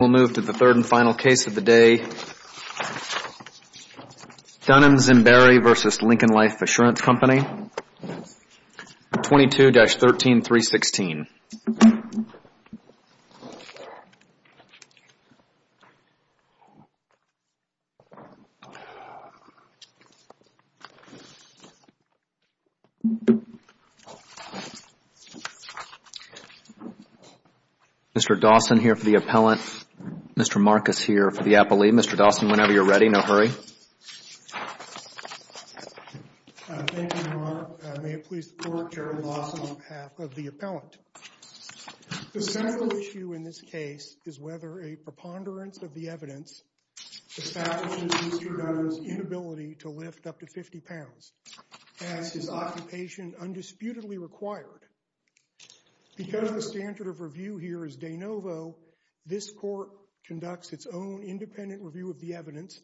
We'll move to the third and final case of the day, Dunham-Zemberi v. Lincoln Life Assurance Company, 22-13316. Mr. Dawson here for the appellant. Mr. Marcus here for the appellee. Mr. Dawson, whenever you're ready, no hurry. Thank you, Your Honor. May it please the Court, Jerry Dawson on behalf of the appellant. The central issue in this case is whether a preponderance of the evidence establishes Mr. Dunham's inability to lift up to 50 pounds. Has his occupation undisputedly required? Because the standard of review here is de novo, this court conducts its own independent review of the evidence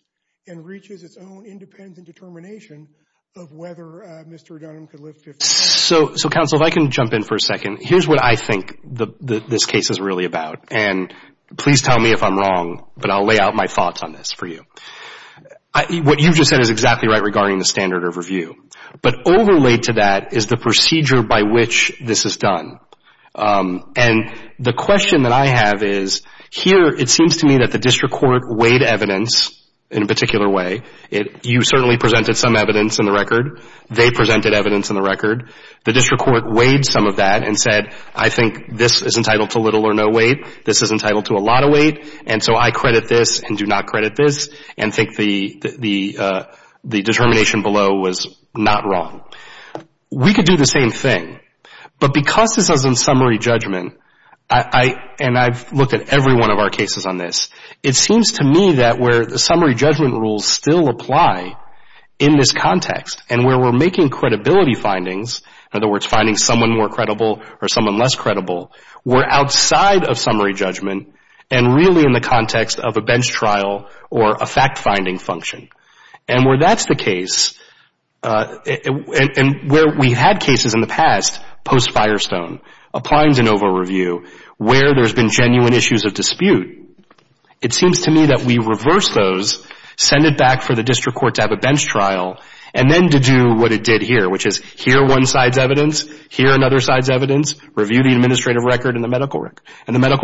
and reaches its own independent determination of whether Mr. Dunham could lift 50 pounds. So counsel, if I can jump in for a second. Here's what I think this case is really about. And please tell me if I'm wrong, but I'll lay out my thoughts on this for you. What you just said is exactly right regarding the standard of review. But overlaid to that is the procedure by which this is done. And the question that I have is, here it seems to me that the district court weighed evidence in a particular way. You certainly presented some evidence in the record. They presented evidence in the record. The district court weighed some of that and said, I think this is entitled to little or no weight. This is entitled to a lot of weight. And so I credit this and do not credit this. And think the determination below was not wrong. We could do the same thing. But because this is in summary judgment, and I've looked at every one of our cases on this, it seems to me that where the summary judgment rules still apply in this context and where we're making credibility findings, in other words, finding someone more credible or someone less credible, we're outside of summary judgment and really in the context of a bench trial or a fact-finding function. And where that's the case, and where we had cases in the past, post-Firestone, applying de novo review, where there's been genuine issues of dispute, it seems to me that we reverse those, send it back for the district court to have a bench trial, and then to do what it did here, which is hear one side's evidence, hear another side's evidence, review the administrative record and the medical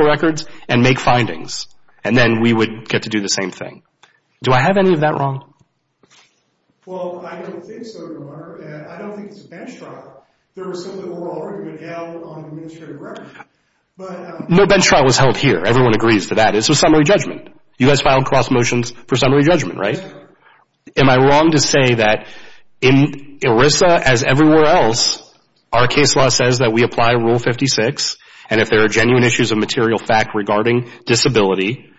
records, and make findings. And then we would get to do the same thing. Do I have any of that wrong? Well, I don't think so, Lamar. I don't think it's a bench trial. There were some that were already been held on administrative record, but... No bench trial was held here. Everyone agrees to that. It's a summary judgment. You guys filed cross motions for summary judgment, right? Am I wrong to say that in ERISA, as everywhere else, our case law says that we apply Rule 56, and if there are genuine issues of material fact regarding disability,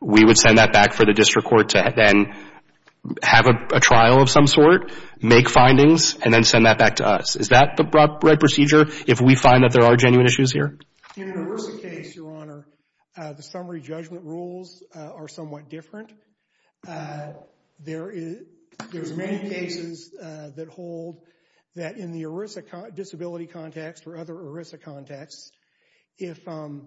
we would send that back for the district court to then have a trial of some sort, make findings, and then send that back to us. Is that the proper procedure if we find that there are genuine issues here? In an ERISA case, Your Honor, the summary judgment rules are somewhat different. There's many cases that hold that in the ERISA disability context or other ERISA contexts, if the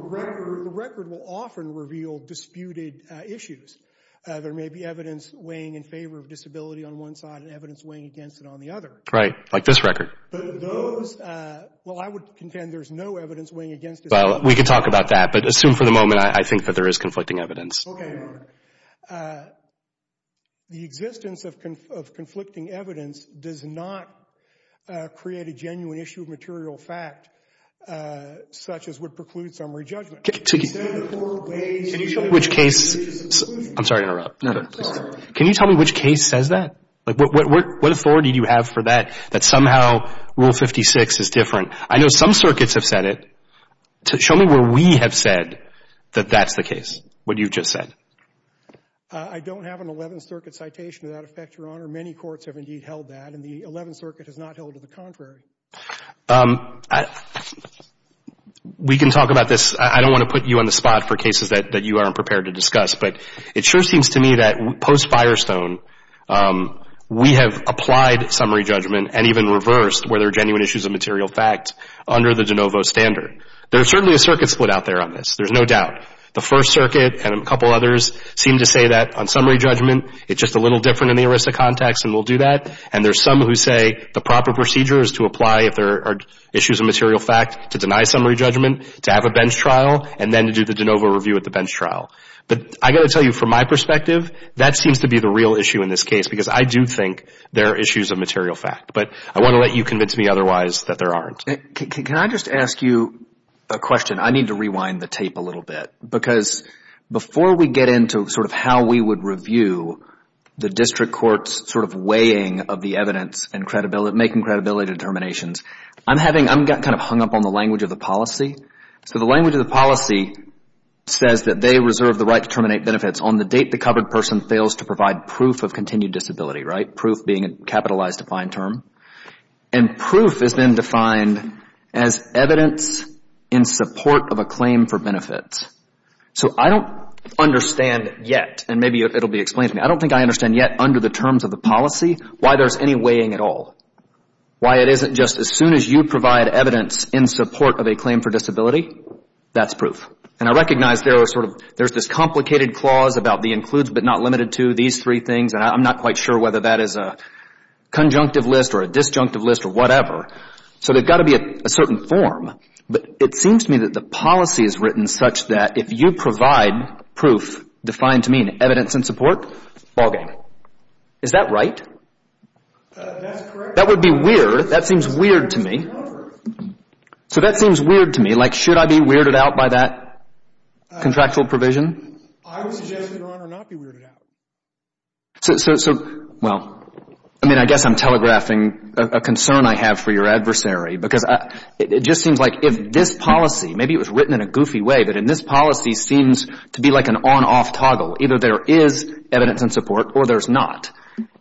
record will often reveal disputed issues. There may be evidence weighing in favor of disability on one side and evidence weighing against it on the other. Right, like this record. But those... Well, I would contend there's no evidence weighing against disability. Well, we could talk about that, but assume for the moment I think that there is conflicting evidence. Okay, Your Honor. The existence of conflicting evidence does not create a genuine issue of material fact, such as would preclude summary judgment. Can you tell me which case... I'm sorry to interrupt. Can you tell me which case says that? What authority do you have for that, that somehow Rule 56 is different? I know some circuits have said it. Show me where we have said that that's the case, what you've just said. I don't have an Eleventh Circuit citation to that effect, Your Honor. Many courts have indeed held that, and the Eleventh Circuit has not held to the contrary. We can talk about this. I don't want to put you on the spot for cases that you aren't prepared to discuss, but it sure seems to me that post Firestone, we have applied summary judgment and even reversed whether genuine issues of material fact under the de novo standard. There's certainly a circuit split out there on this. There's no doubt. The First Circuit and a couple of others seem to say that on summary judgment, it's just a little different in the ERISA context, and we'll do that. And there's some who say the proper procedure is to apply if there are issues of material fact to deny summary judgment, to have a bench trial, and then to do the de novo review at the bench trial. But I've got to tell you, from my perspective, that seems to be the real issue in this case because I do think there are issues of material fact. But I want to let you convince me otherwise that there aren't. Can I just ask you a question? I need to rewind the tape a little bit because before we get into sort of how we would review the district court's sort of weighing of the evidence and making credibility determinations, I'm kind of hung up on the language of the policy. So the language of the policy says that they reserve the right to terminate benefits on the date the covered person fails to provide proof of continued disability, right? Proof being a capitalized defined term. And proof has been defined as evidence in support of a claim for benefits. So I don't understand yet, and maybe it'll be explained to me, I don't think I understand yet under the terms of the policy why there's any weighing at all. Why it isn't just as soon as you provide evidence in support of a claim for disability, that's proof. And I recognize there are sort of, there's this complicated clause about the includes but not limited to, these three things, and I'm not quite sure whether that is a conjunctive list or a disjunctive list or whatever. So there's got to be a certain form, but it seems to me that the policy is written such that if you provide proof defined to mean evidence in support, ballgame. Is that right? That's correct. That would be weird. That seems weird to me. So that seems weird to me. Like, should I be weirded out by that contractual provision? I would suggest, Your Honor, not be weirded out. So, well, I mean, I guess I'm telegraphing a concern I have for your adversary, because it just seems like if this policy, maybe it was written in a goofy way, but in this policy seems to be like an on-off toggle. Either there is evidence in support or there's not.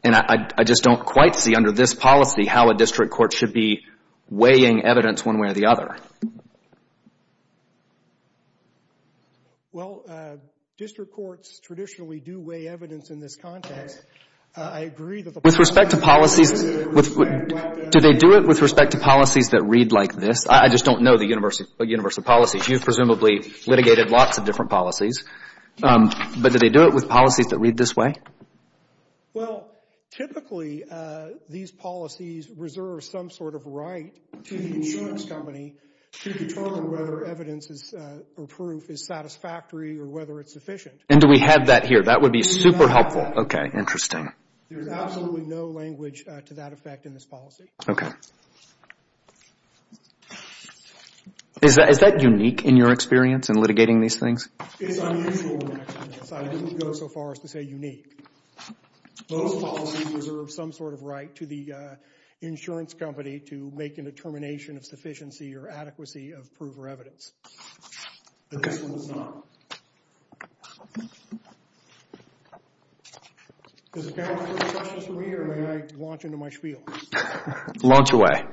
And I just don't quite see under this policy how a district court should be weighing evidence one way or the other. Well, district courts traditionally do weigh evidence in this context. I agree that the policy should be weighed like that. With respect to policies, do they do it with respect to policies that read like this? I just don't know the universal policies. You've presumably litigated lots of different policies. But do they do it with policies that read this way? to the insurance company to weigh evidence to determine whether evidence or proof is satisfactory or whether it's sufficient. And do we have that here? That would be super helpful. OK, interesting. There's absolutely no language to that effect in this policy. OK. Is that unique in your experience in litigating these things? It's unusual in my experience. I wouldn't go so far as to say unique. Most policies reserve some sort of right to the insurance company to make a determination of sufficiency or adequacy of proof or evidence. OK. But this one does not. Does the panel have any questions for me? Or may I launch into my spiel? Launch away.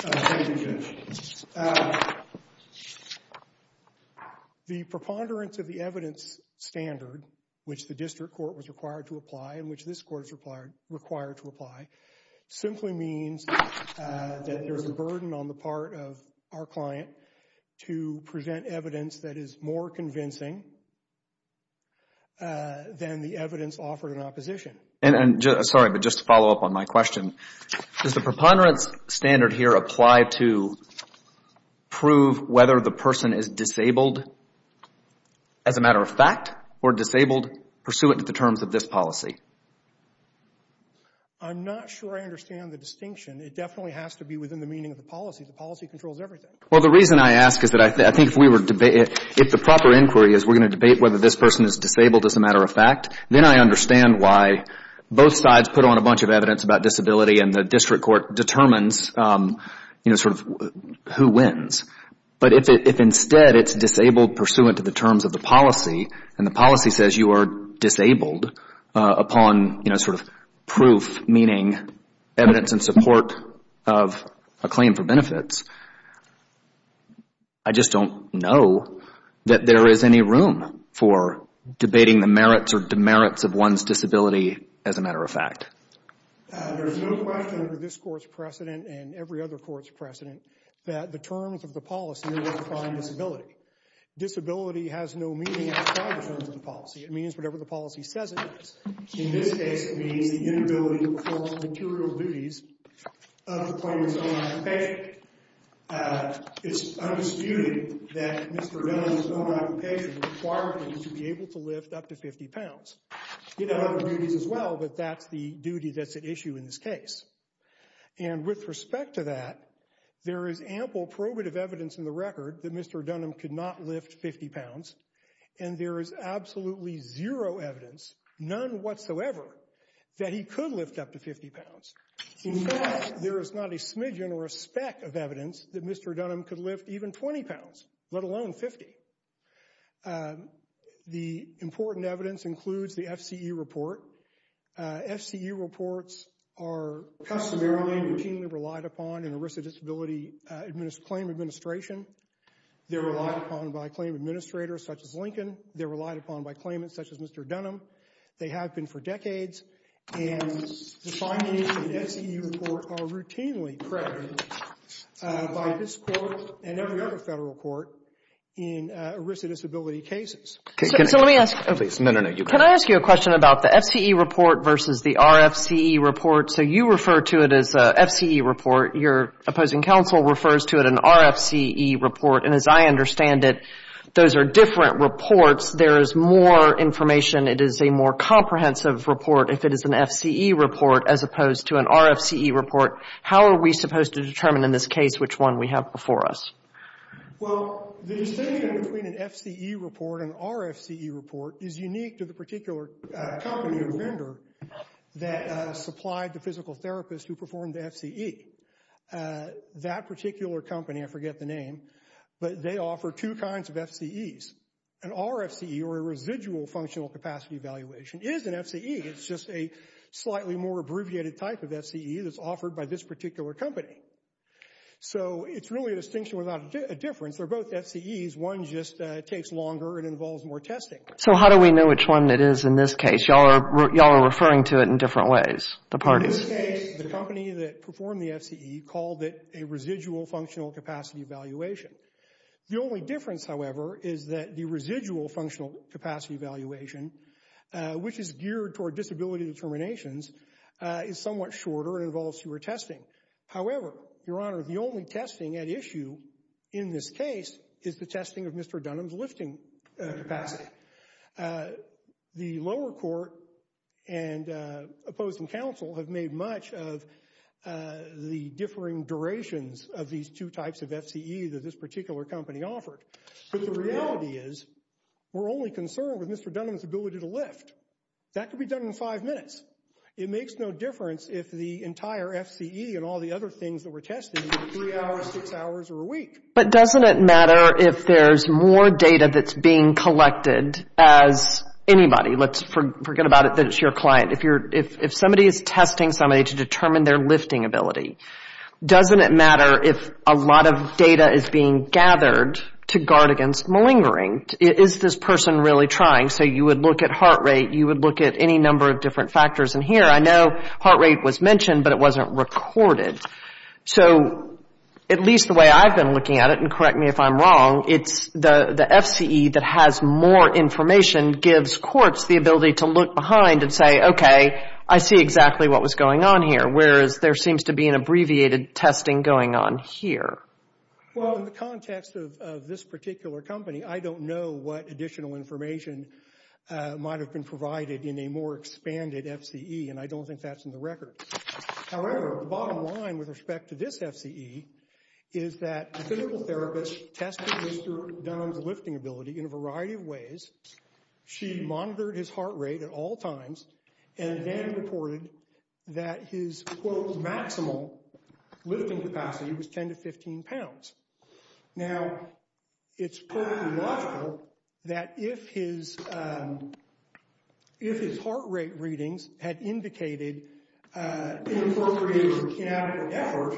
Thank you, Judge. The preponderance of the evidence standard, which the district court was required to apply and which this court is required to apply, simply means that there's a burden on the part of our client to present evidence that is more convincing than the evidence offered in opposition. And sorry, but just to follow up on my question, does the preponderance standard here apply to prove whether the person is disabled as a matter of fact or disabled pursuant to the terms of this policy? I'm not sure I understand the distinction. It definitely has to be within the meaning of the policy. The policy controls everything. Well, the reason I ask is that I think if we were to debate it, if the proper inquiry is we're going to debate whether this person is disabled as a matter of fact, then I understand why both sides put on a bunch of evidence about disability and the district court determines who wins. But if instead it's disabled pursuant to the terms of the policy, and the policy says you are disabled upon proof, meaning evidence in support of a claim for benefits, I just don't know that there is any room for debating the merits or demerits of one's disability as a matter of fact. There's no question under this court's precedent and every other court's precedent that the terms of the policy define disability. Disability has no meaning outside the terms of the policy. It means whatever the policy says it is. In this case, it means the inability to perform material duties of the claimant's own occupation. It's undisputed that Mr. Dunham's own occupation required him to be able to lift up to 50 pounds. He had other duties as well, but that's the duty that's at issue in this case. And with respect to that, there is ample probative evidence in the record that Mr. Dunham could not lift 50 pounds, and there is absolutely zero evidence, none whatsoever, that he could lift up to 50 pounds. In fact, there is not a smidgen or a speck of evidence that Mr. Dunham could lift even 20 pounds, let alone 50. The important evidence includes the FCE report. FCE reports are customarily and routinely relied upon in a risk of disability claim administration. They're relied upon by claim administrators such as Lincoln. They're relied upon by claimants such as Mr. Dunham. They have been for decades, and the findings in the FCE report are routinely presented by this Court and every other federal court in risk of disability cases. So let me ask you a question about the FCE report versus the RFCE report. So you refer to it as a FCE report. Your opposing counsel refers to it an RFCE report, and as I understand it, those are different reports. There is more information. It is a more comprehensive report if it is an FCE report as opposed to an RFCE report. How are we supposed to determine in this case which one we have before us? Well, the distinction between an FCE report and RFCE report is unique to the particular company or vendor that supplied the physical therapist who performed the FCE. That particular company, I forget the name, but they offer two kinds of FCEs. An RFCE, or a residual functional capacity evaluation, is an FCE. It's just a slightly more abbreviated type of FCE that's offered by this particular company. So it's really a distinction without a difference. They're both FCEs. One just takes longer and involves more testing. So how do we know which one it is in this case? Y'all are referring to it in different ways, the parties. In this case, the company that performed the FCE called it a residual functional capacity evaluation. The only difference, however, is that the residual functional capacity evaluation, which is geared toward disability determinations, is somewhat shorter and involves fewer testing. However, Your Honor, the only testing at issue in this case is the testing of Mr. Dunham's lifting capacity. The lower court and opposing counsel have made much of the differing durations of these two types of FCEs that this particular company offered. But the reality is, we're only concerned with Mr. Dunham's ability to lift. That could be done in five minutes. It makes no difference if the entire FCE and all the other things that were tested were three hours, six hours, or a week. But doesn't it matter if there's more data that's being collected as anybody? Let's forget about it, that it's your client. If somebody is testing somebody to determine their lifting ability, doesn't it matter if a lot of data is being gathered to guard against malingering? Is this person really trying? So you would look at heart rate, you would look at any number of different factors. And here, I know heart rate was mentioned, but it wasn't recorded. So at least the way I've been looking at it, and correct me if I'm wrong, it's the FCE that has more information gives courts the ability to look behind and say, okay, I see exactly what was going on here, whereas there seems to be an abbreviated testing going on here. Well, in the context of this particular company, I don't know what additional information might have been provided in a more expanded FCE, and I don't think that's in the record. However, the bottom line with respect to this FCE is that the physical therapist tested Mr. Dunham's lifting ability in a variety of ways. She monitored his heart rate at all times. And then reported that his, quote, his maximal lifting capacity was 10 to 15 pounds. Now, it's perfectly logical that if his heart rate readings had indicated inappropriate or inadequate effort,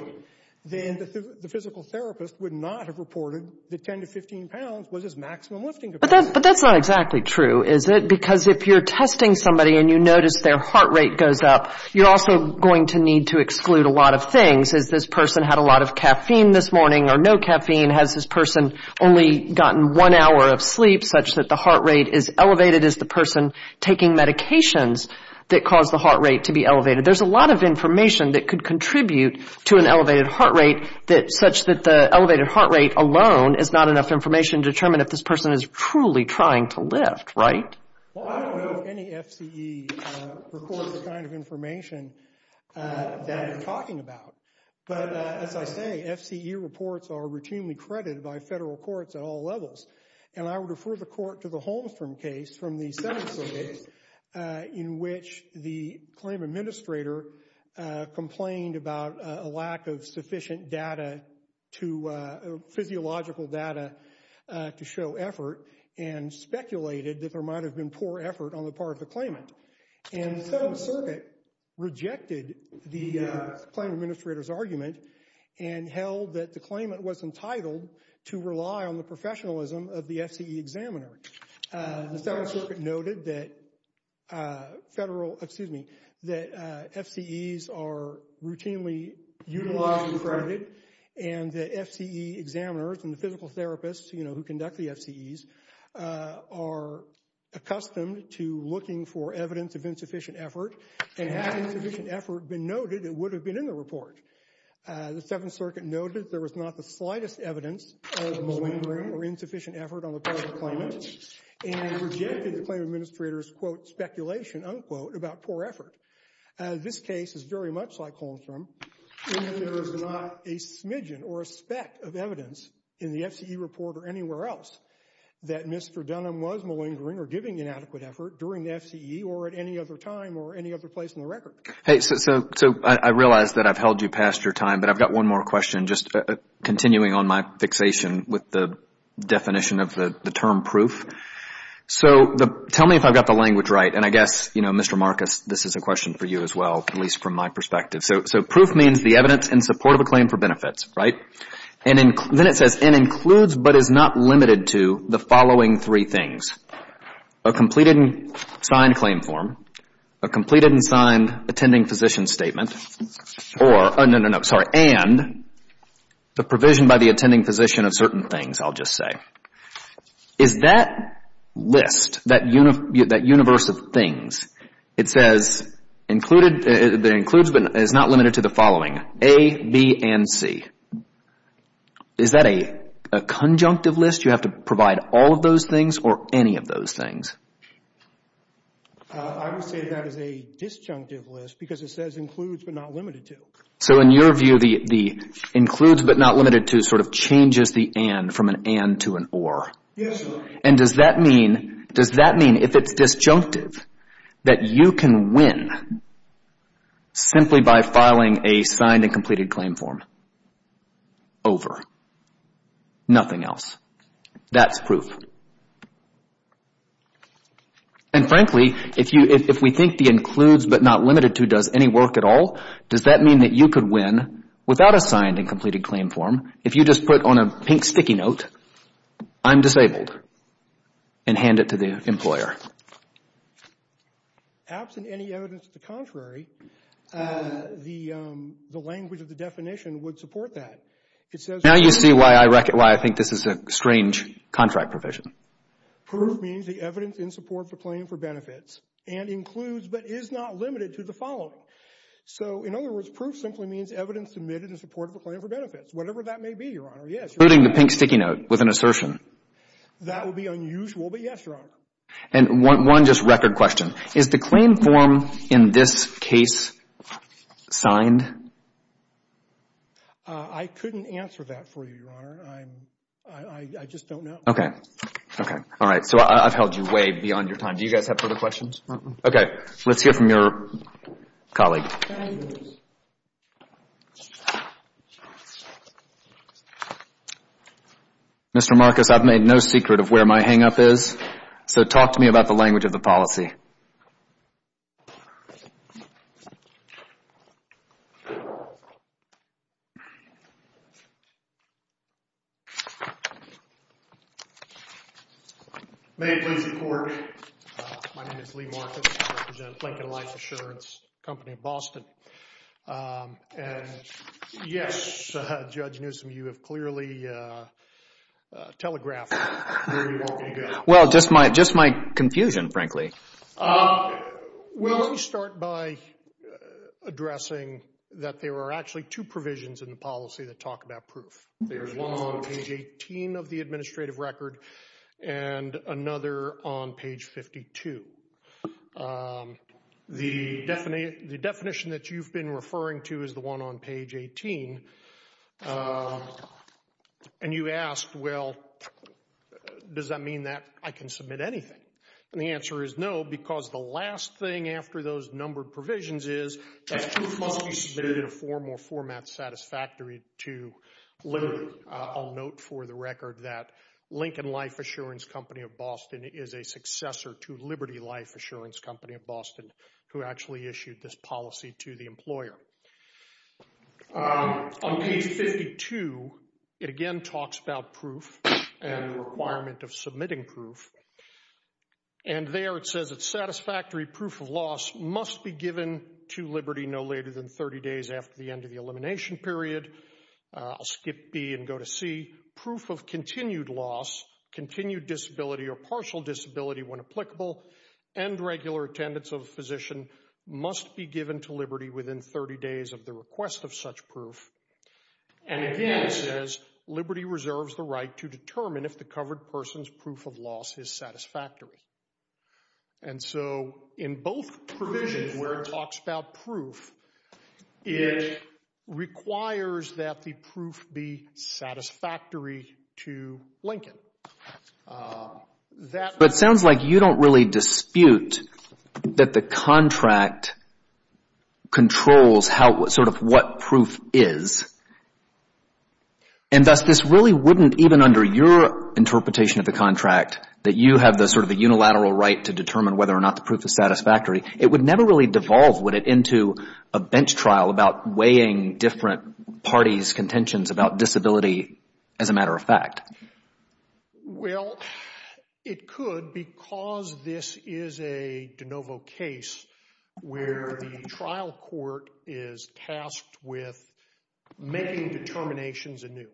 then the physical therapist would not have reported that 10 to 15 pounds was his maximum lifting capacity. But that's not exactly true, is it? Because if you're testing somebody and you notice their heart rate goes up, you're also going to need to exclude a lot of things. Has this person had a lot of caffeine this morning or no caffeine? Has this person only gotten one hour of sleep such that the heart rate is elevated? Is the person taking medications that cause the heart rate to be elevated? There's a lot of information that could contribute to an elevated heart rate such that the elevated heart rate alone is not enough information to determine if this person is truly trying to lift, right? Well, I don't know if any FCE reports the kind of information that you're talking about. But as I say, FCE reports are routinely credited by federal courts at all levels. And I would refer the court to the Holmstrom case from the Senate survey in which the claim administrator complained about a lack of sufficient data to physiological data to show effort and speculated that there might have been poor effort on the part of the claimant. And the Senate circuit rejected the claim administrator's argument and held that the claimant was entitled to rely on the professionalism of the FCE examiner. The Senate circuit noted that federal, excuse me, that FCEs are routinely utilized and credited and the FCE examiners and the physical therapists, you know, who conduct the FCEs are accustomed to looking for evidence of insufficient effort. And had insufficient effort been noted, it would have been in the report. The Seventh Circuit noted there was not the slightest evidence of malingering or insufficient effort on the part of the claimant and rejected the claim administrator's, quote, speculation, unquote, about poor effort. This case is very much like Holmstrom in that there is not a smidgen or a speck of evidence in the FCE report or anywhere else that Mr. Dunham was malingering or giving inadequate effort during the FCE or at any other time or any other place in the record. Hey, so I realize that I've held you past your time, but I've got one more question just continuing on my fixation with the definition of the term proof. So tell me if I've got the language right. And I guess, you know, Mr. Marcus, this is a question for you as well, at least from my perspective. So proof means the evidence in support of a claim for benefits, right? And then it says, and includes, but is not limited to the following three things, a completed and signed claim form, a completed and signed attending physician statement, or, no, no, no, sorry, and the provision by the attending physician of certain things, I'll just say. Is that list, that universe of things, it says included, that includes, but is not limited to the following, A, B, and C. Is that a conjunctive list? You have to provide all of those things or any of those things? I would say that is a disjunctive list because it says includes, but not limited to. So in your view, the includes, but not limited to sort of changes the and from an and to an or? Yes, sir. And does that mean, does that mean if it's disjunctive that you can win simply by filing a signed and completed claim form? Over. Nothing else. That's proof. And frankly, if we think the includes, but not limited to does any work at all, does that mean that you could win without a signed and completed claim form if you just put on a pink sticky note, I'm disabled, and hand it to the employer? Absent any evidence to the contrary, the language of the definition would support that. Now you see why I reckon, why I think this is a strange contract provision. Proof means the evidence in support of the claim for benefits and includes, but is not limited to the following. So in other words, proof simply means evidence admitted in support of a claim for benefits, whatever that may be, Your Honor. Yes. Including the pink sticky note with an assertion. That would be unusual, but yes, Your Honor. And one just record question. Is the claim form in this case signed? I couldn't answer that for you, Your Honor. I just don't know. OK. OK. All right. So I've held you way beyond your time. Do you guys have further questions? OK. Let's hear from your colleague. Mr. Marcus, I've made no secret of where my hang up is. So talk to me about the language of the policy. May I please report? My name is Lee Marcus, I represent Lincoln Life Assurance Company in Boston. And yes, Judge Newsom, you have clearly telegraphed where you want me to go. Well, just my just my confusion, frankly. Well, let me start by addressing that there are actually two provisions in the policy that talk about proof. There's one on page 18 of the administrative record and another on page 52. The definition that you've been referring to is the one on page 18. And you asked, well, does that mean that I can submit anything? And the answer is no, because the last thing after those numbered provisions is that proof must be submitted in a form or format satisfactory to Liberty. I'll note for the record that Lincoln Life Assurance Company of Boston is a successor to Liberty Life Assurance Company of Boston who actually issued this policy to the employer. On page 52, it again talks about proof and the requirement of submitting proof. And there it says it's satisfactory. Proof of loss must be given to Liberty no later than 30 days after the end of the elimination period. I'll skip B and go to C. Proof of continued loss, continued disability or partial disability when applicable and regular attendance of a physician must be given to Liberty within 30 days of the request of such proof. And again, it says Liberty reserves the right to determine if the covered person's proof of loss is satisfactory. And so in both provisions where it talks about proof, it requires that the proof be satisfactory to Lincoln. But it sounds like you don't really dispute that the contract controls sort of what proof is. And thus, this really wouldn't even under your interpretation of the contract that you have the sort of the unilateral right to determine whether or not the proof is satisfactory. It would never really devolve, would it, into a bench trial about weighing different parties' contentions about disability as a matter of fact? Well, it could because this is a de novo case where the trial court is tasked with making determinations anew.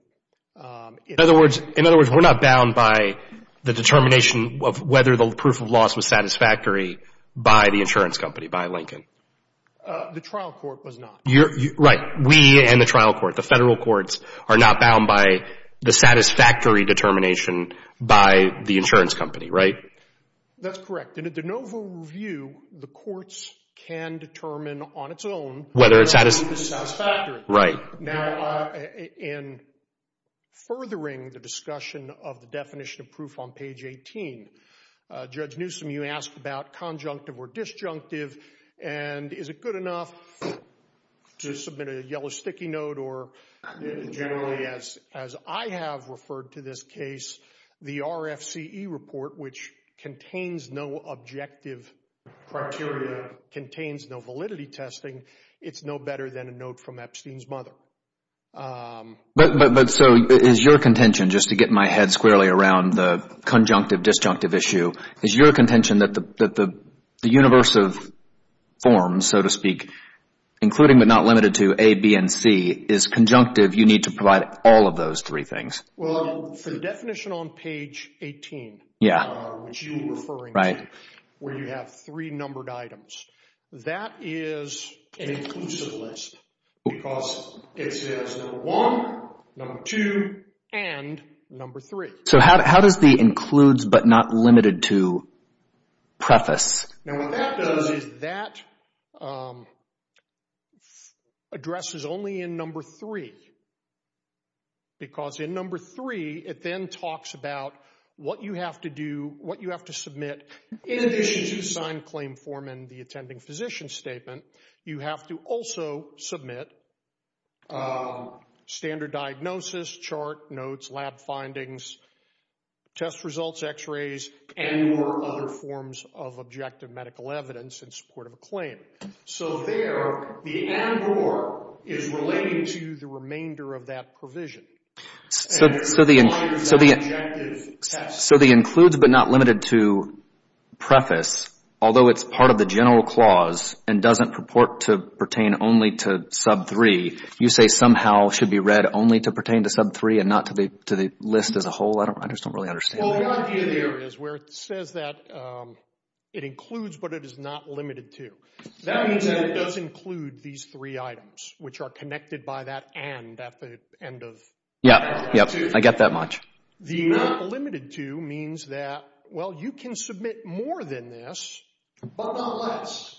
In other words, we're not bound by the determination of whether the proof of loss was satisfactory by the insurance company, by Lincoln. The trial court was not. Right. We and the trial court, the federal courts, are not bound by the satisfactory determination by the insurance company, right? That's correct. In a de novo review, the courts can determine on its own whether the proof is satisfactory. Right. Now, in furthering the discussion of the definition of proof on page 18, Judge Newsom, you asked about conjunctive or disjunctive. And is it good enough to submit a yellow sticky note or generally, as I have referred to this case, the RFCE report, which contains no objective criteria, contains no validity testing, it's no better than a note from Epstein's mother. But so is your contention, just to get my head squarely around the conjunctive, disjunctive issue, is your contention that the universe of forms, so to speak, including but not limited to A, B, and C, is conjunctive, you need to provide all of those three things? Well, for the definition on page 18, which you were referring to, where you have three numbered items, that is an inclusive list because it says number one, number two, and number three. So how does the includes but not limited to preface? Now, what that does is that address is only in number three, because in number three, it then talks about what you have to do, what you have to submit, in addition to the signed claim form and the attending physician statement, you have to also submit standard diagnosis, chart notes, lab findings, test results, x-rays, and more other forms of objective medical evidence in support of a claim. So there, the and or is relating to the remainder of that provision. So the includes but not limited to preface, although it's part of the general clause and doesn't purport to pertain only to sub three, you say somehow should be read only to pertain to sub three and not to the list as a whole? I just don't really understand. Well, the idea there is where it says that it includes but it is not limited to. That means that it does include these three items, which are connected by that and at the end of. Yeah, yeah, I get that much. The not limited to means that, well, you can submit more than this, but not less.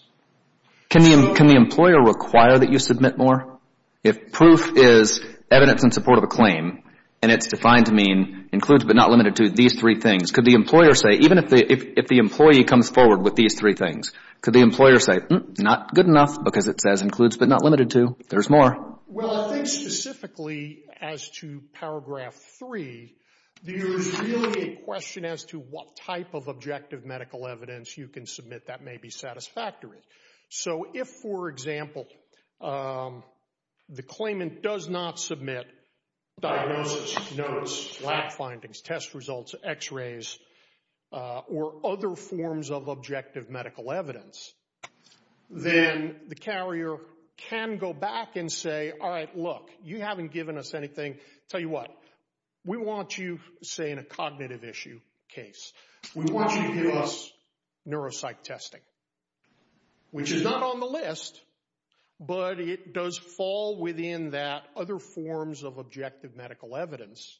Can the employer require that you submit more? If proof is evidence in support of a claim, and it's defined to mean includes but not limited to these three things, could the employer say, even if the employee comes forward with these three things, could the employer say, not good enough because it says includes but not limited to. There's more. Well, I think specifically as to paragraph three, there's really a question as to what type of objective medical evidence you can submit that may be satisfactory. So if, for example, the claimant does not submit diagnosis, notes, lab findings, test results, x-rays, or other forms of objective medical evidence, then the carrier can go back and say, all right, look, you haven't given us anything. Tell you what, we want you, say, in a cognitive issue case, we want you to give us neuropsych testing, which is not on the list, but it does fall within that other forms of objective medical evidence.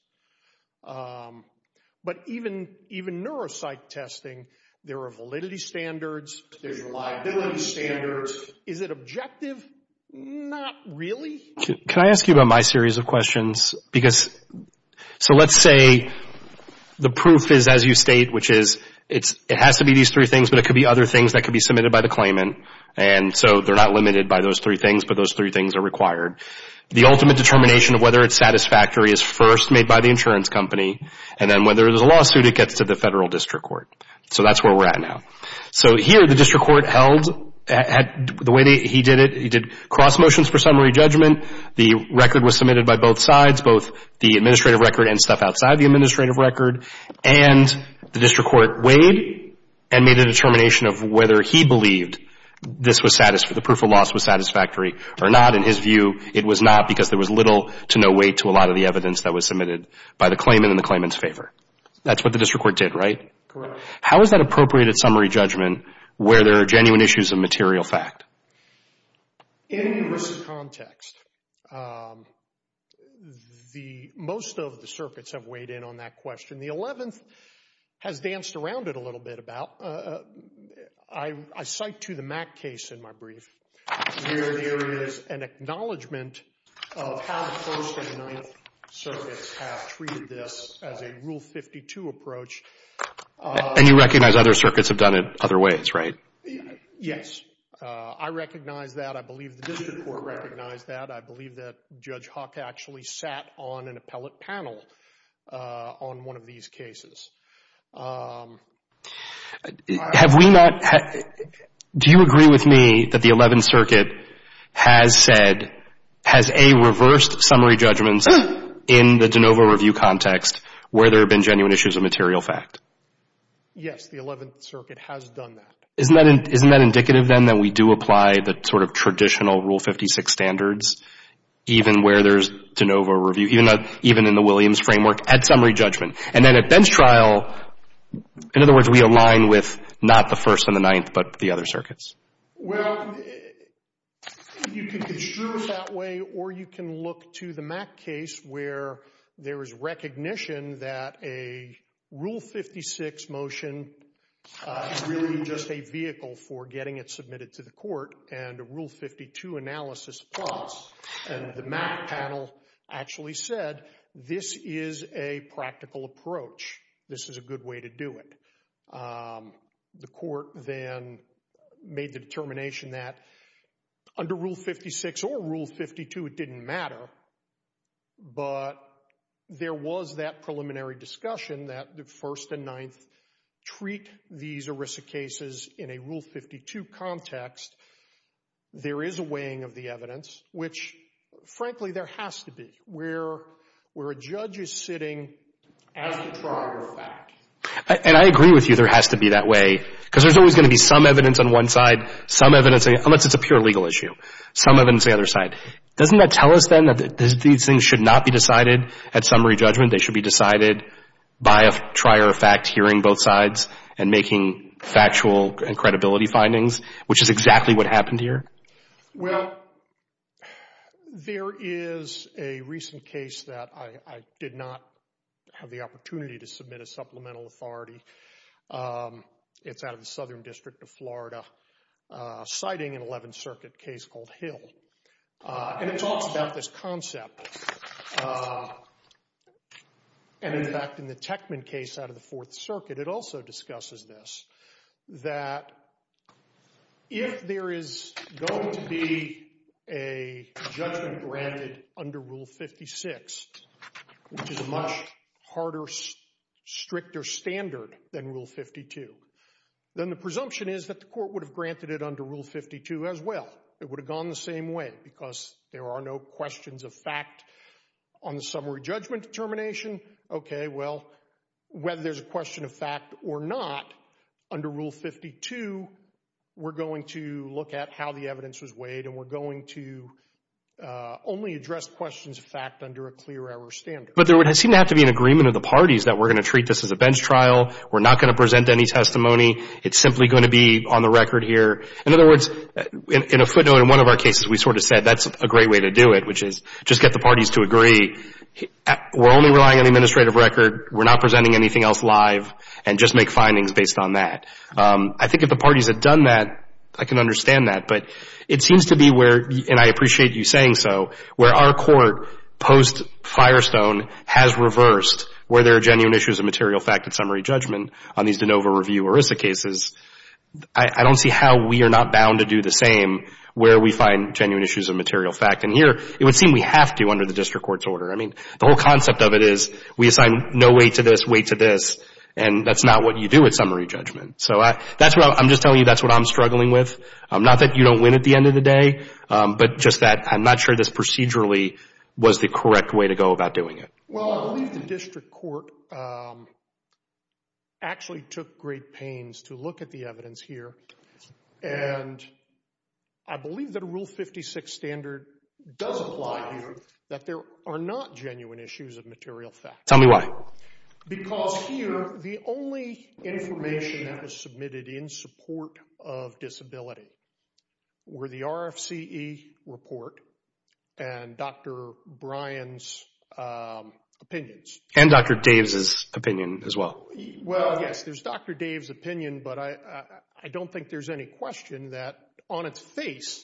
But even neuropsych testing, there are validity standards, there's reliability standards. Is it objective? Not really. Can I ask you about my series of questions? Because, so let's say the proof is as you state, which is it has to be these three things, but it could be other things that could be submitted by the claimant. And so they're not limited by those three things, but those three things are required. The ultimate determination of whether it's satisfactory is first made by the insurance company, and then whether there's a lawsuit, it gets to the federal district court. So that's where we're at now. So here, the district court held, the way he did it, he did cross motions for summary judgment. The record was submitted by both sides, both the administrative record and stuff outside the administrative record. And the district court weighed and made a determination of whether he believed this was satisfactory, the proof of loss was satisfactory or not. In his view, it was not, because there was little to no weight to a lot of the evidence that was submitted by the claimant in the claimant's favor. That's what the district court did, right? Correct. How is that appropriated summary judgment where there are genuine issues of material fact? In this context, most of the circuits have weighed in on that question. And the 11th has danced around it a little bit about. I cite to the Mack case in my brief, where there is an acknowledgment of how the 1st and 9th circuits have treated this as a Rule 52 approach. And you recognize other circuits have done it other ways, right? Yes. I recognize that. I believe the district court recognized that. I believe that Judge Huck actually sat on an appellate panel on one of these cases. Have we not... Do you agree with me that the 11th Circuit has said, has A reversed summary judgments in the de novo review context where there have been genuine issues of material fact? Yes, the 11th Circuit has done that. Isn't that indicative then that we do apply the sort of traditional Rule 56 standards, even where there's de novo review, even in the Williams framework, at summary judgment? And then at bench trial, in other words, we align with not the 1st and the 9th, but the other circuits? Well, you can construe it that way, or you can look to the Mack case, where there is recognition that a Rule 56 motion is really just a vehicle for getting it submitted to the court, and a Rule 52 analysis applies. And the Mack panel actually said, this is a practical approach. This is a good way to do it. The court then made the determination that under Rule 56 or Rule 52, it didn't matter, but there was that preliminary discussion that the 1st and 9th treat these ERISA cases in a Rule 52 context. There is a weighing of the evidence, which, frankly, there has to be, where a judge is sitting as the trier of fact. And I agree with you there has to be that way, because there's always going to be some evidence on one side, some evidence, unless it's a pure legal issue, some evidence on the other side. Doesn't that tell us then that these things should not be decided at summary judgment? They should be decided by a trier of fact hearing both sides and making factual and credibility findings, which is exactly what happened here? Well, there is a recent case that I did not have the opportunity to submit a supplemental authority. It's out of the Southern District of Florida, citing an 11th Circuit case called Hill. And it talks about this concept. And in fact, in the Techman case out of the Fourth Circuit, it also discusses this, that if there is going to be a judgment granted under Rule 56, which is a much harder, stricter standard than Rule 52, then the presumption is that the court would have granted it under Rule 52 as well. It would have gone the same way, because there are no questions of fact on the summary judgment determination. OK, well, whether there's a question of fact or not, under Rule 52, we're going to look at how the evidence was weighed. And we're going to only address questions of fact under a clear error standard. But there would seem to have to be an agreement of the parties that we're going to treat this as a bench trial. We're not going to present any testimony. It's simply going to be on the record here. In other words, in a footnote, in one of our cases, we sort of said, that's a great way to do it, which is just get the parties to agree. We're only relying on the administrative record. We're not presenting anything else live, and just make findings based on that. I think if the parties had done that, I can understand that. But it seems to be where, and I appreciate you saying so, where our court, post Firestone, has reversed, where there are genuine issues of material fact and summary judgment on these de novo review ERISA cases. I don't see how we are not bound to do the same where we find genuine issues of material fact. And here, it would seem we have to under the district court's order. I mean, the whole concept of it is, we assign no weight to this, weight to this, and that's not what you do with summary judgment. So I'm just telling you that's what I'm struggling with. Not that you don't win at the end of the day, but just that I'm not sure this procedurally was the correct way to go about doing it. Well, I believe the district court actually took great pains to look at the evidence here. And I believe that a Rule 56 standard does apply here, that there are not genuine issues of material fact. Tell me why. Because here, the only information that was submitted in support of disability were the RFCE report and Dr. Bryan's opinions. And Dr. Dave's opinion as well. Well, yes, there's Dr. Dave's opinion, but I don't think there's any question that on its face,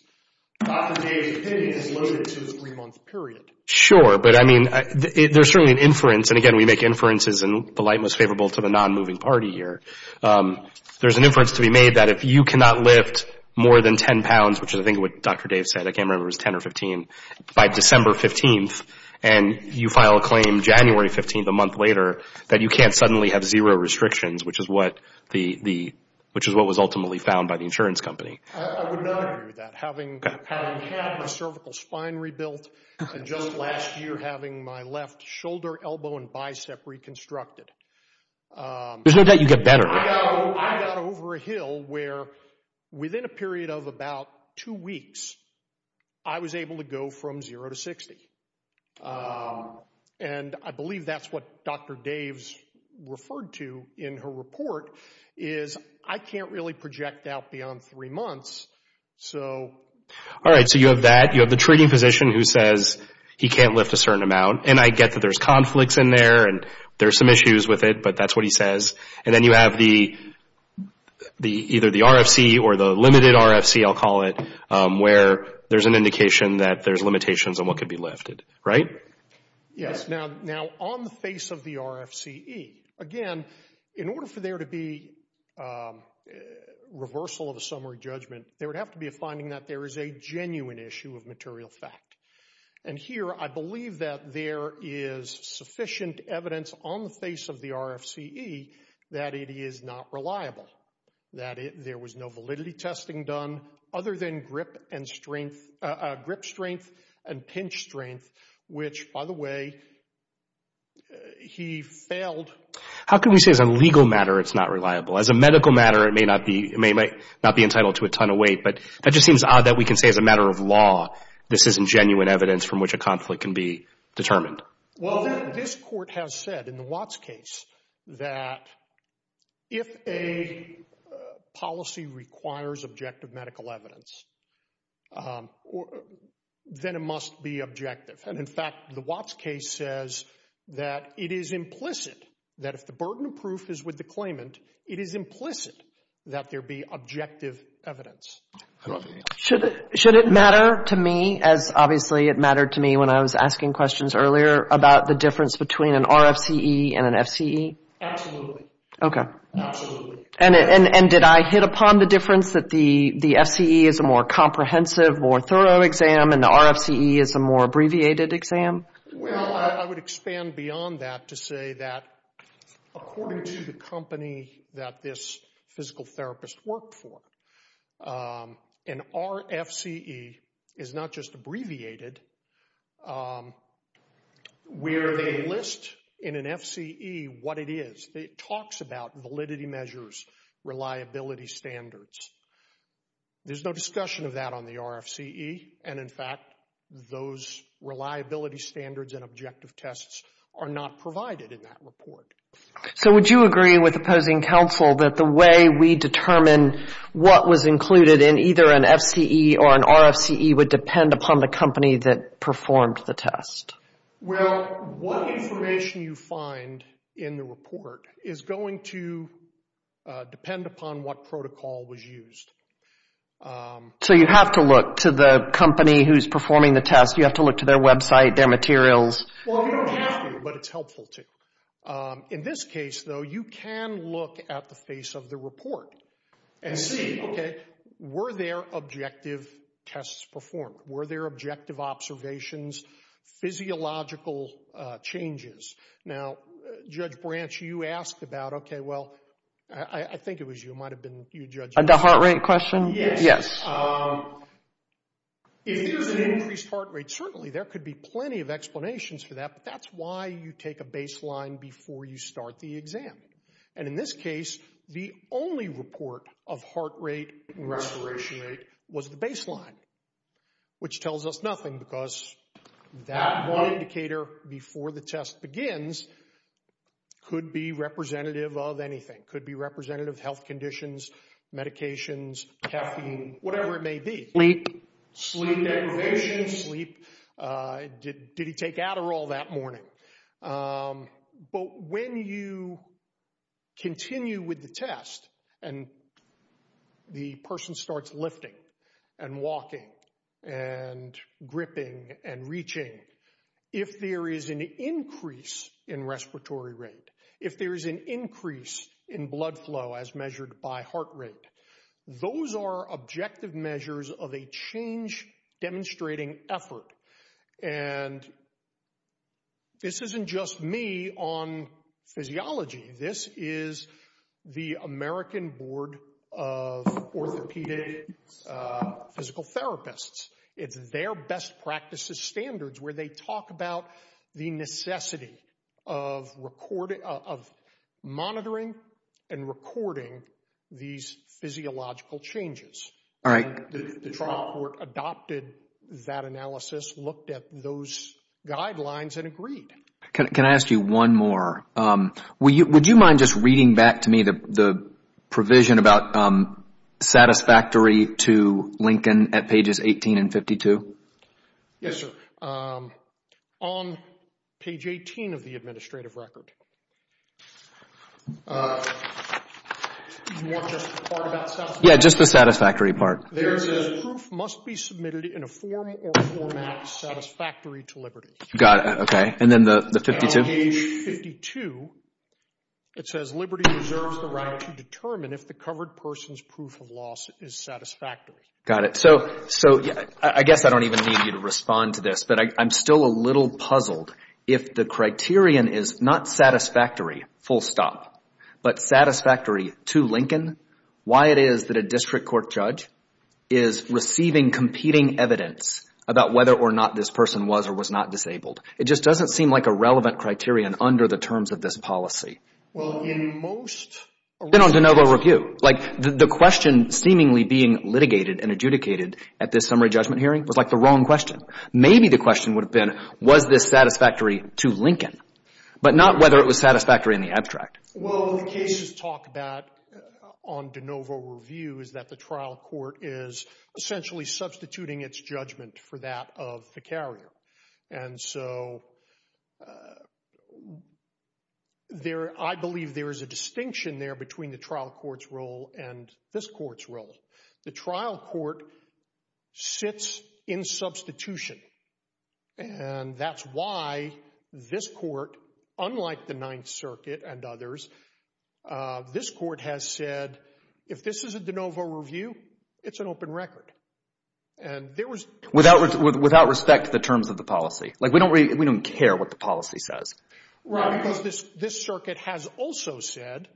Dr. Dave's opinion is loaded to this three-month period. Sure, but I mean, there's certainly an inference. And again, we make inferences in the light most favorable to the non-moving party here. There's an inference to be made that if you cannot lift more than 10 pounds, which is I think what Dr. Dave said, I can't remember if it was 10 or 15, by December 15th, and you file a claim January 15th, a month later, that you can't suddenly have zero restrictions, which is what was ultimately found by the insurance company. I would not agree with that. Having had my cervical spine rebuilt, and just last year having my left shoulder, elbow, and bicep reconstructed. There's no doubt you get better. I got over a hill where within a period of about two weeks, I was able to go from zero to 60. And I believe that's what Dr. Dave's referred to in her report, is I can't really project out beyond three months. All right, so you have that. You have the treating physician who says he can't lift a certain amount. And I get that there's conflicts in there, and there's some issues with it, but that's what he says. And then you have either the RFC or the limited RFC, I'll call it, where there's an indication that there's limitations on what could be lifted, right? Yes, now on the face of the RFCE, again, in order for there to be reversal of a summary judgment there would have to be a finding that there is a genuine issue of material fact. And here, I believe that there is sufficient evidence on the face of the RFCE that it is not reliable, that there was no validity testing done other than grip strength and pinch strength, which, by the way, he failed. How can we say as a legal matter it's not reliable? As a medical matter, it may not be entitled to a ton of weight, but that just seems odd that we can say as a matter of law, this isn't genuine evidence from which a conflict can be determined. Well, this court has said in the Watts case that if a policy requires objective medical evidence, then it must be objective. And in fact, the Watts case says that it is implicit that if the burden of proof is with the claimant, it is implicit that there be objective evidence. Should it matter to me, as obviously it mattered to me when I was asking questions earlier about the difference between an RFCE and an FCE? Absolutely. OK. Absolutely. And did I hit upon the difference that the FCE is a more comprehensive, more thorough exam and the RFCE is a more abbreviated exam? Well, I would expand beyond that to say that according to the company that this physical therapist worked for, an RFCE is not just abbreviated, where they list in an FCE what it is. It talks about validity measures, reliability standards. There's no discussion of that on the RFCE. And in fact, those reliability standards and objective tests are not provided in that report. So would you agree with opposing counsel that the way we determine what was included in either an FCE or an RFCE would depend upon the company that performed the test? Well, what information you find in the report is going to depend upon what protocol was used. So you have to look to the company who's performing the test. You have to look to their website, their materials. Well, you don't have to, but it's helpful to. In this case, though, you can look at the face of the report and see, OK, were there objective tests performed? Were there objective observations, physiological changes? Now, Judge Branch, you asked about, OK, well, I think it was you. It might have been you, Judge. The heart rate question? Yes. If there's an increased heart rate, certainly there could be plenty of explanations for that. But that's why you take a baseline before you start the exam. And in this case, the only report of heart rate and respiration rate was the baseline, which tells us nothing, because that one indicator before the test begins could be representative of anything. Could be representative of health conditions, medications, caffeine, whatever it may be. Sleep. Sleep deprivation. Sleep. Did he take Adderall that morning? But when you continue with the test and the person starts lifting and walking and gripping and reaching, if there is an increase in respiratory rate, if there is an increase in blood flow, as measured by heart rate, those are objective measures of a change-demonstrating effort. And this isn't just me on physiology. This is the American Board of Orthopedic Physical Therapists. It's their best practices standards where they talk about the necessity of monitoring and recording these physiological changes. The trial court adopted that analysis, looked at those guidelines, and agreed. Can I ask you one more? Would you mind just reading back to me the provision about satisfactory to Lincoln at pages 18 and 52? Yes, sir. On page 18 of the administrative record. You want just the part about satisfactory? Yeah, just the satisfactory part. There it says, proof must be submitted in a form or format satisfactory to Liberty. Got it. OK. And then the 52? Page 52, it says Liberty deserves the right to determine if the covered person's proof of loss is satisfactory. Got it. So I guess I don't even need you to respond to this, but I'm still a little puzzled. If the criterion is not satisfactory, full stop, but satisfactory to Lincoln, why it is that a district court judge is receiving competing evidence about whether or not this person was or was not disabled. It just doesn't seem like a relevant criterion under the terms of this policy. Well, in most around the world. It's been on de novo review. Like, the question seemingly being litigated and adjudicated at this summary judgment hearing was like the wrong question. Maybe the question would have been, was this satisfactory to Lincoln? But not whether it was satisfactory in the abstract. Well, the cases talk about on de novo review is that the trial court is essentially substituting its judgment for that of the carrier. And so I believe there is a distinction there between the trial court's role and this court's role. The trial court sits in substitution. And that's why this court, unlike the Ninth Circuit and others, this court has said, if this is a de novo review, it's an open record. And there was- Without respect to the terms of the policy. Like, we don't care what the policy says. Right, because this circuit has also said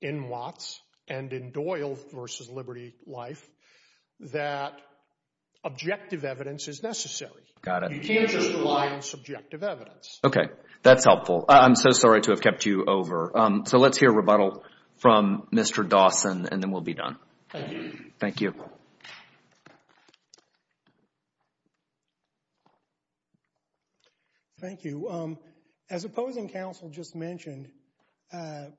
in Watts and in Doyle versus Liberty Life that objective evidence is necessary. You can't just rely on subjective evidence. OK, that's helpful. I'm so sorry to have kept you over. So let's hear a rebuttal from Mr. Dawson, and then we'll be done. Thank you. Thank you. As opposing counsel just mentioned,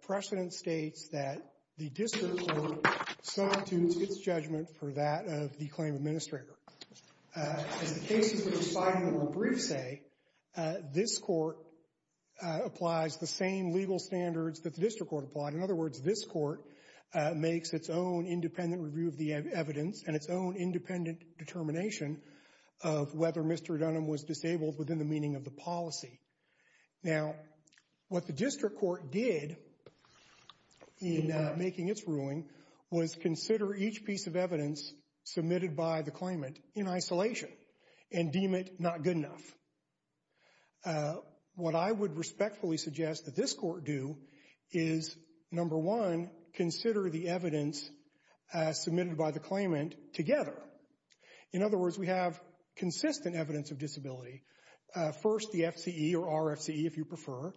precedent states that the district court substitutes its judgment for that of the claim administrator. As the cases we just filed in the more brief say, this court applies the same legal standards that the district court applied. In other words, this court makes its own independent review of the evidence and its own independent determination of whether Mr. Dunham was disabled within the meaning of the policy. Now, what the district court did in making its ruling was consider each piece of evidence submitted by the claimant in isolation and deem it not good enough. What I would respectfully suggest that this court do is, number one, consider the evidence submitted by the claimant together. In other words, we have consistent evidence of disability. First, the FCE, or RFCE if you prefer,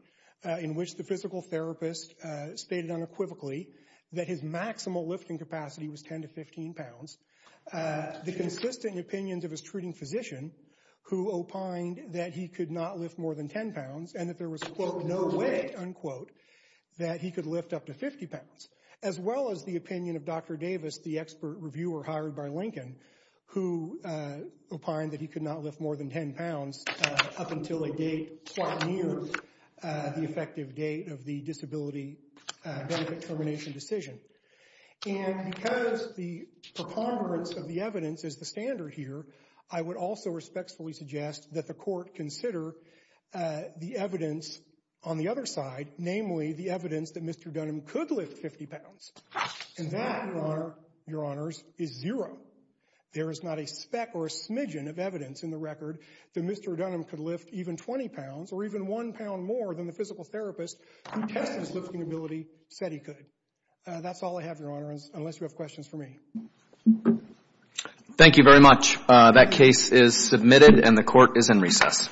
in which the physical therapist stated unequivocally that his maximal lifting capacity was 10 to 15 pounds. The consistent opinions of his treating physician, who opined that he could not lift more than 10 pounds and that there was, quote, no way, unquote, that he could lift up to 50 pounds. As well as the opinion of Dr. Davis, the expert reviewer hired by Lincoln, who opined that he could not lift more than 10 pounds up until a date quite near the effective date of the disability benefit termination decision. And because the preponderance of the evidence is the standard here, I would also respectfully suggest that the court consider the evidence on the other side, namely the evidence that Mr. Dunham could lift 50 pounds. And that, your honors, is zero. There is not a speck or a smidgen of evidence in the record that Mr. Dunham could lift even 20 pounds or even one pound more than the physical therapist who tested his lifting ability said he could. That's all I have, your honor, unless you have questions for me. Thank you very much. That case is submitted, and the court is in recess.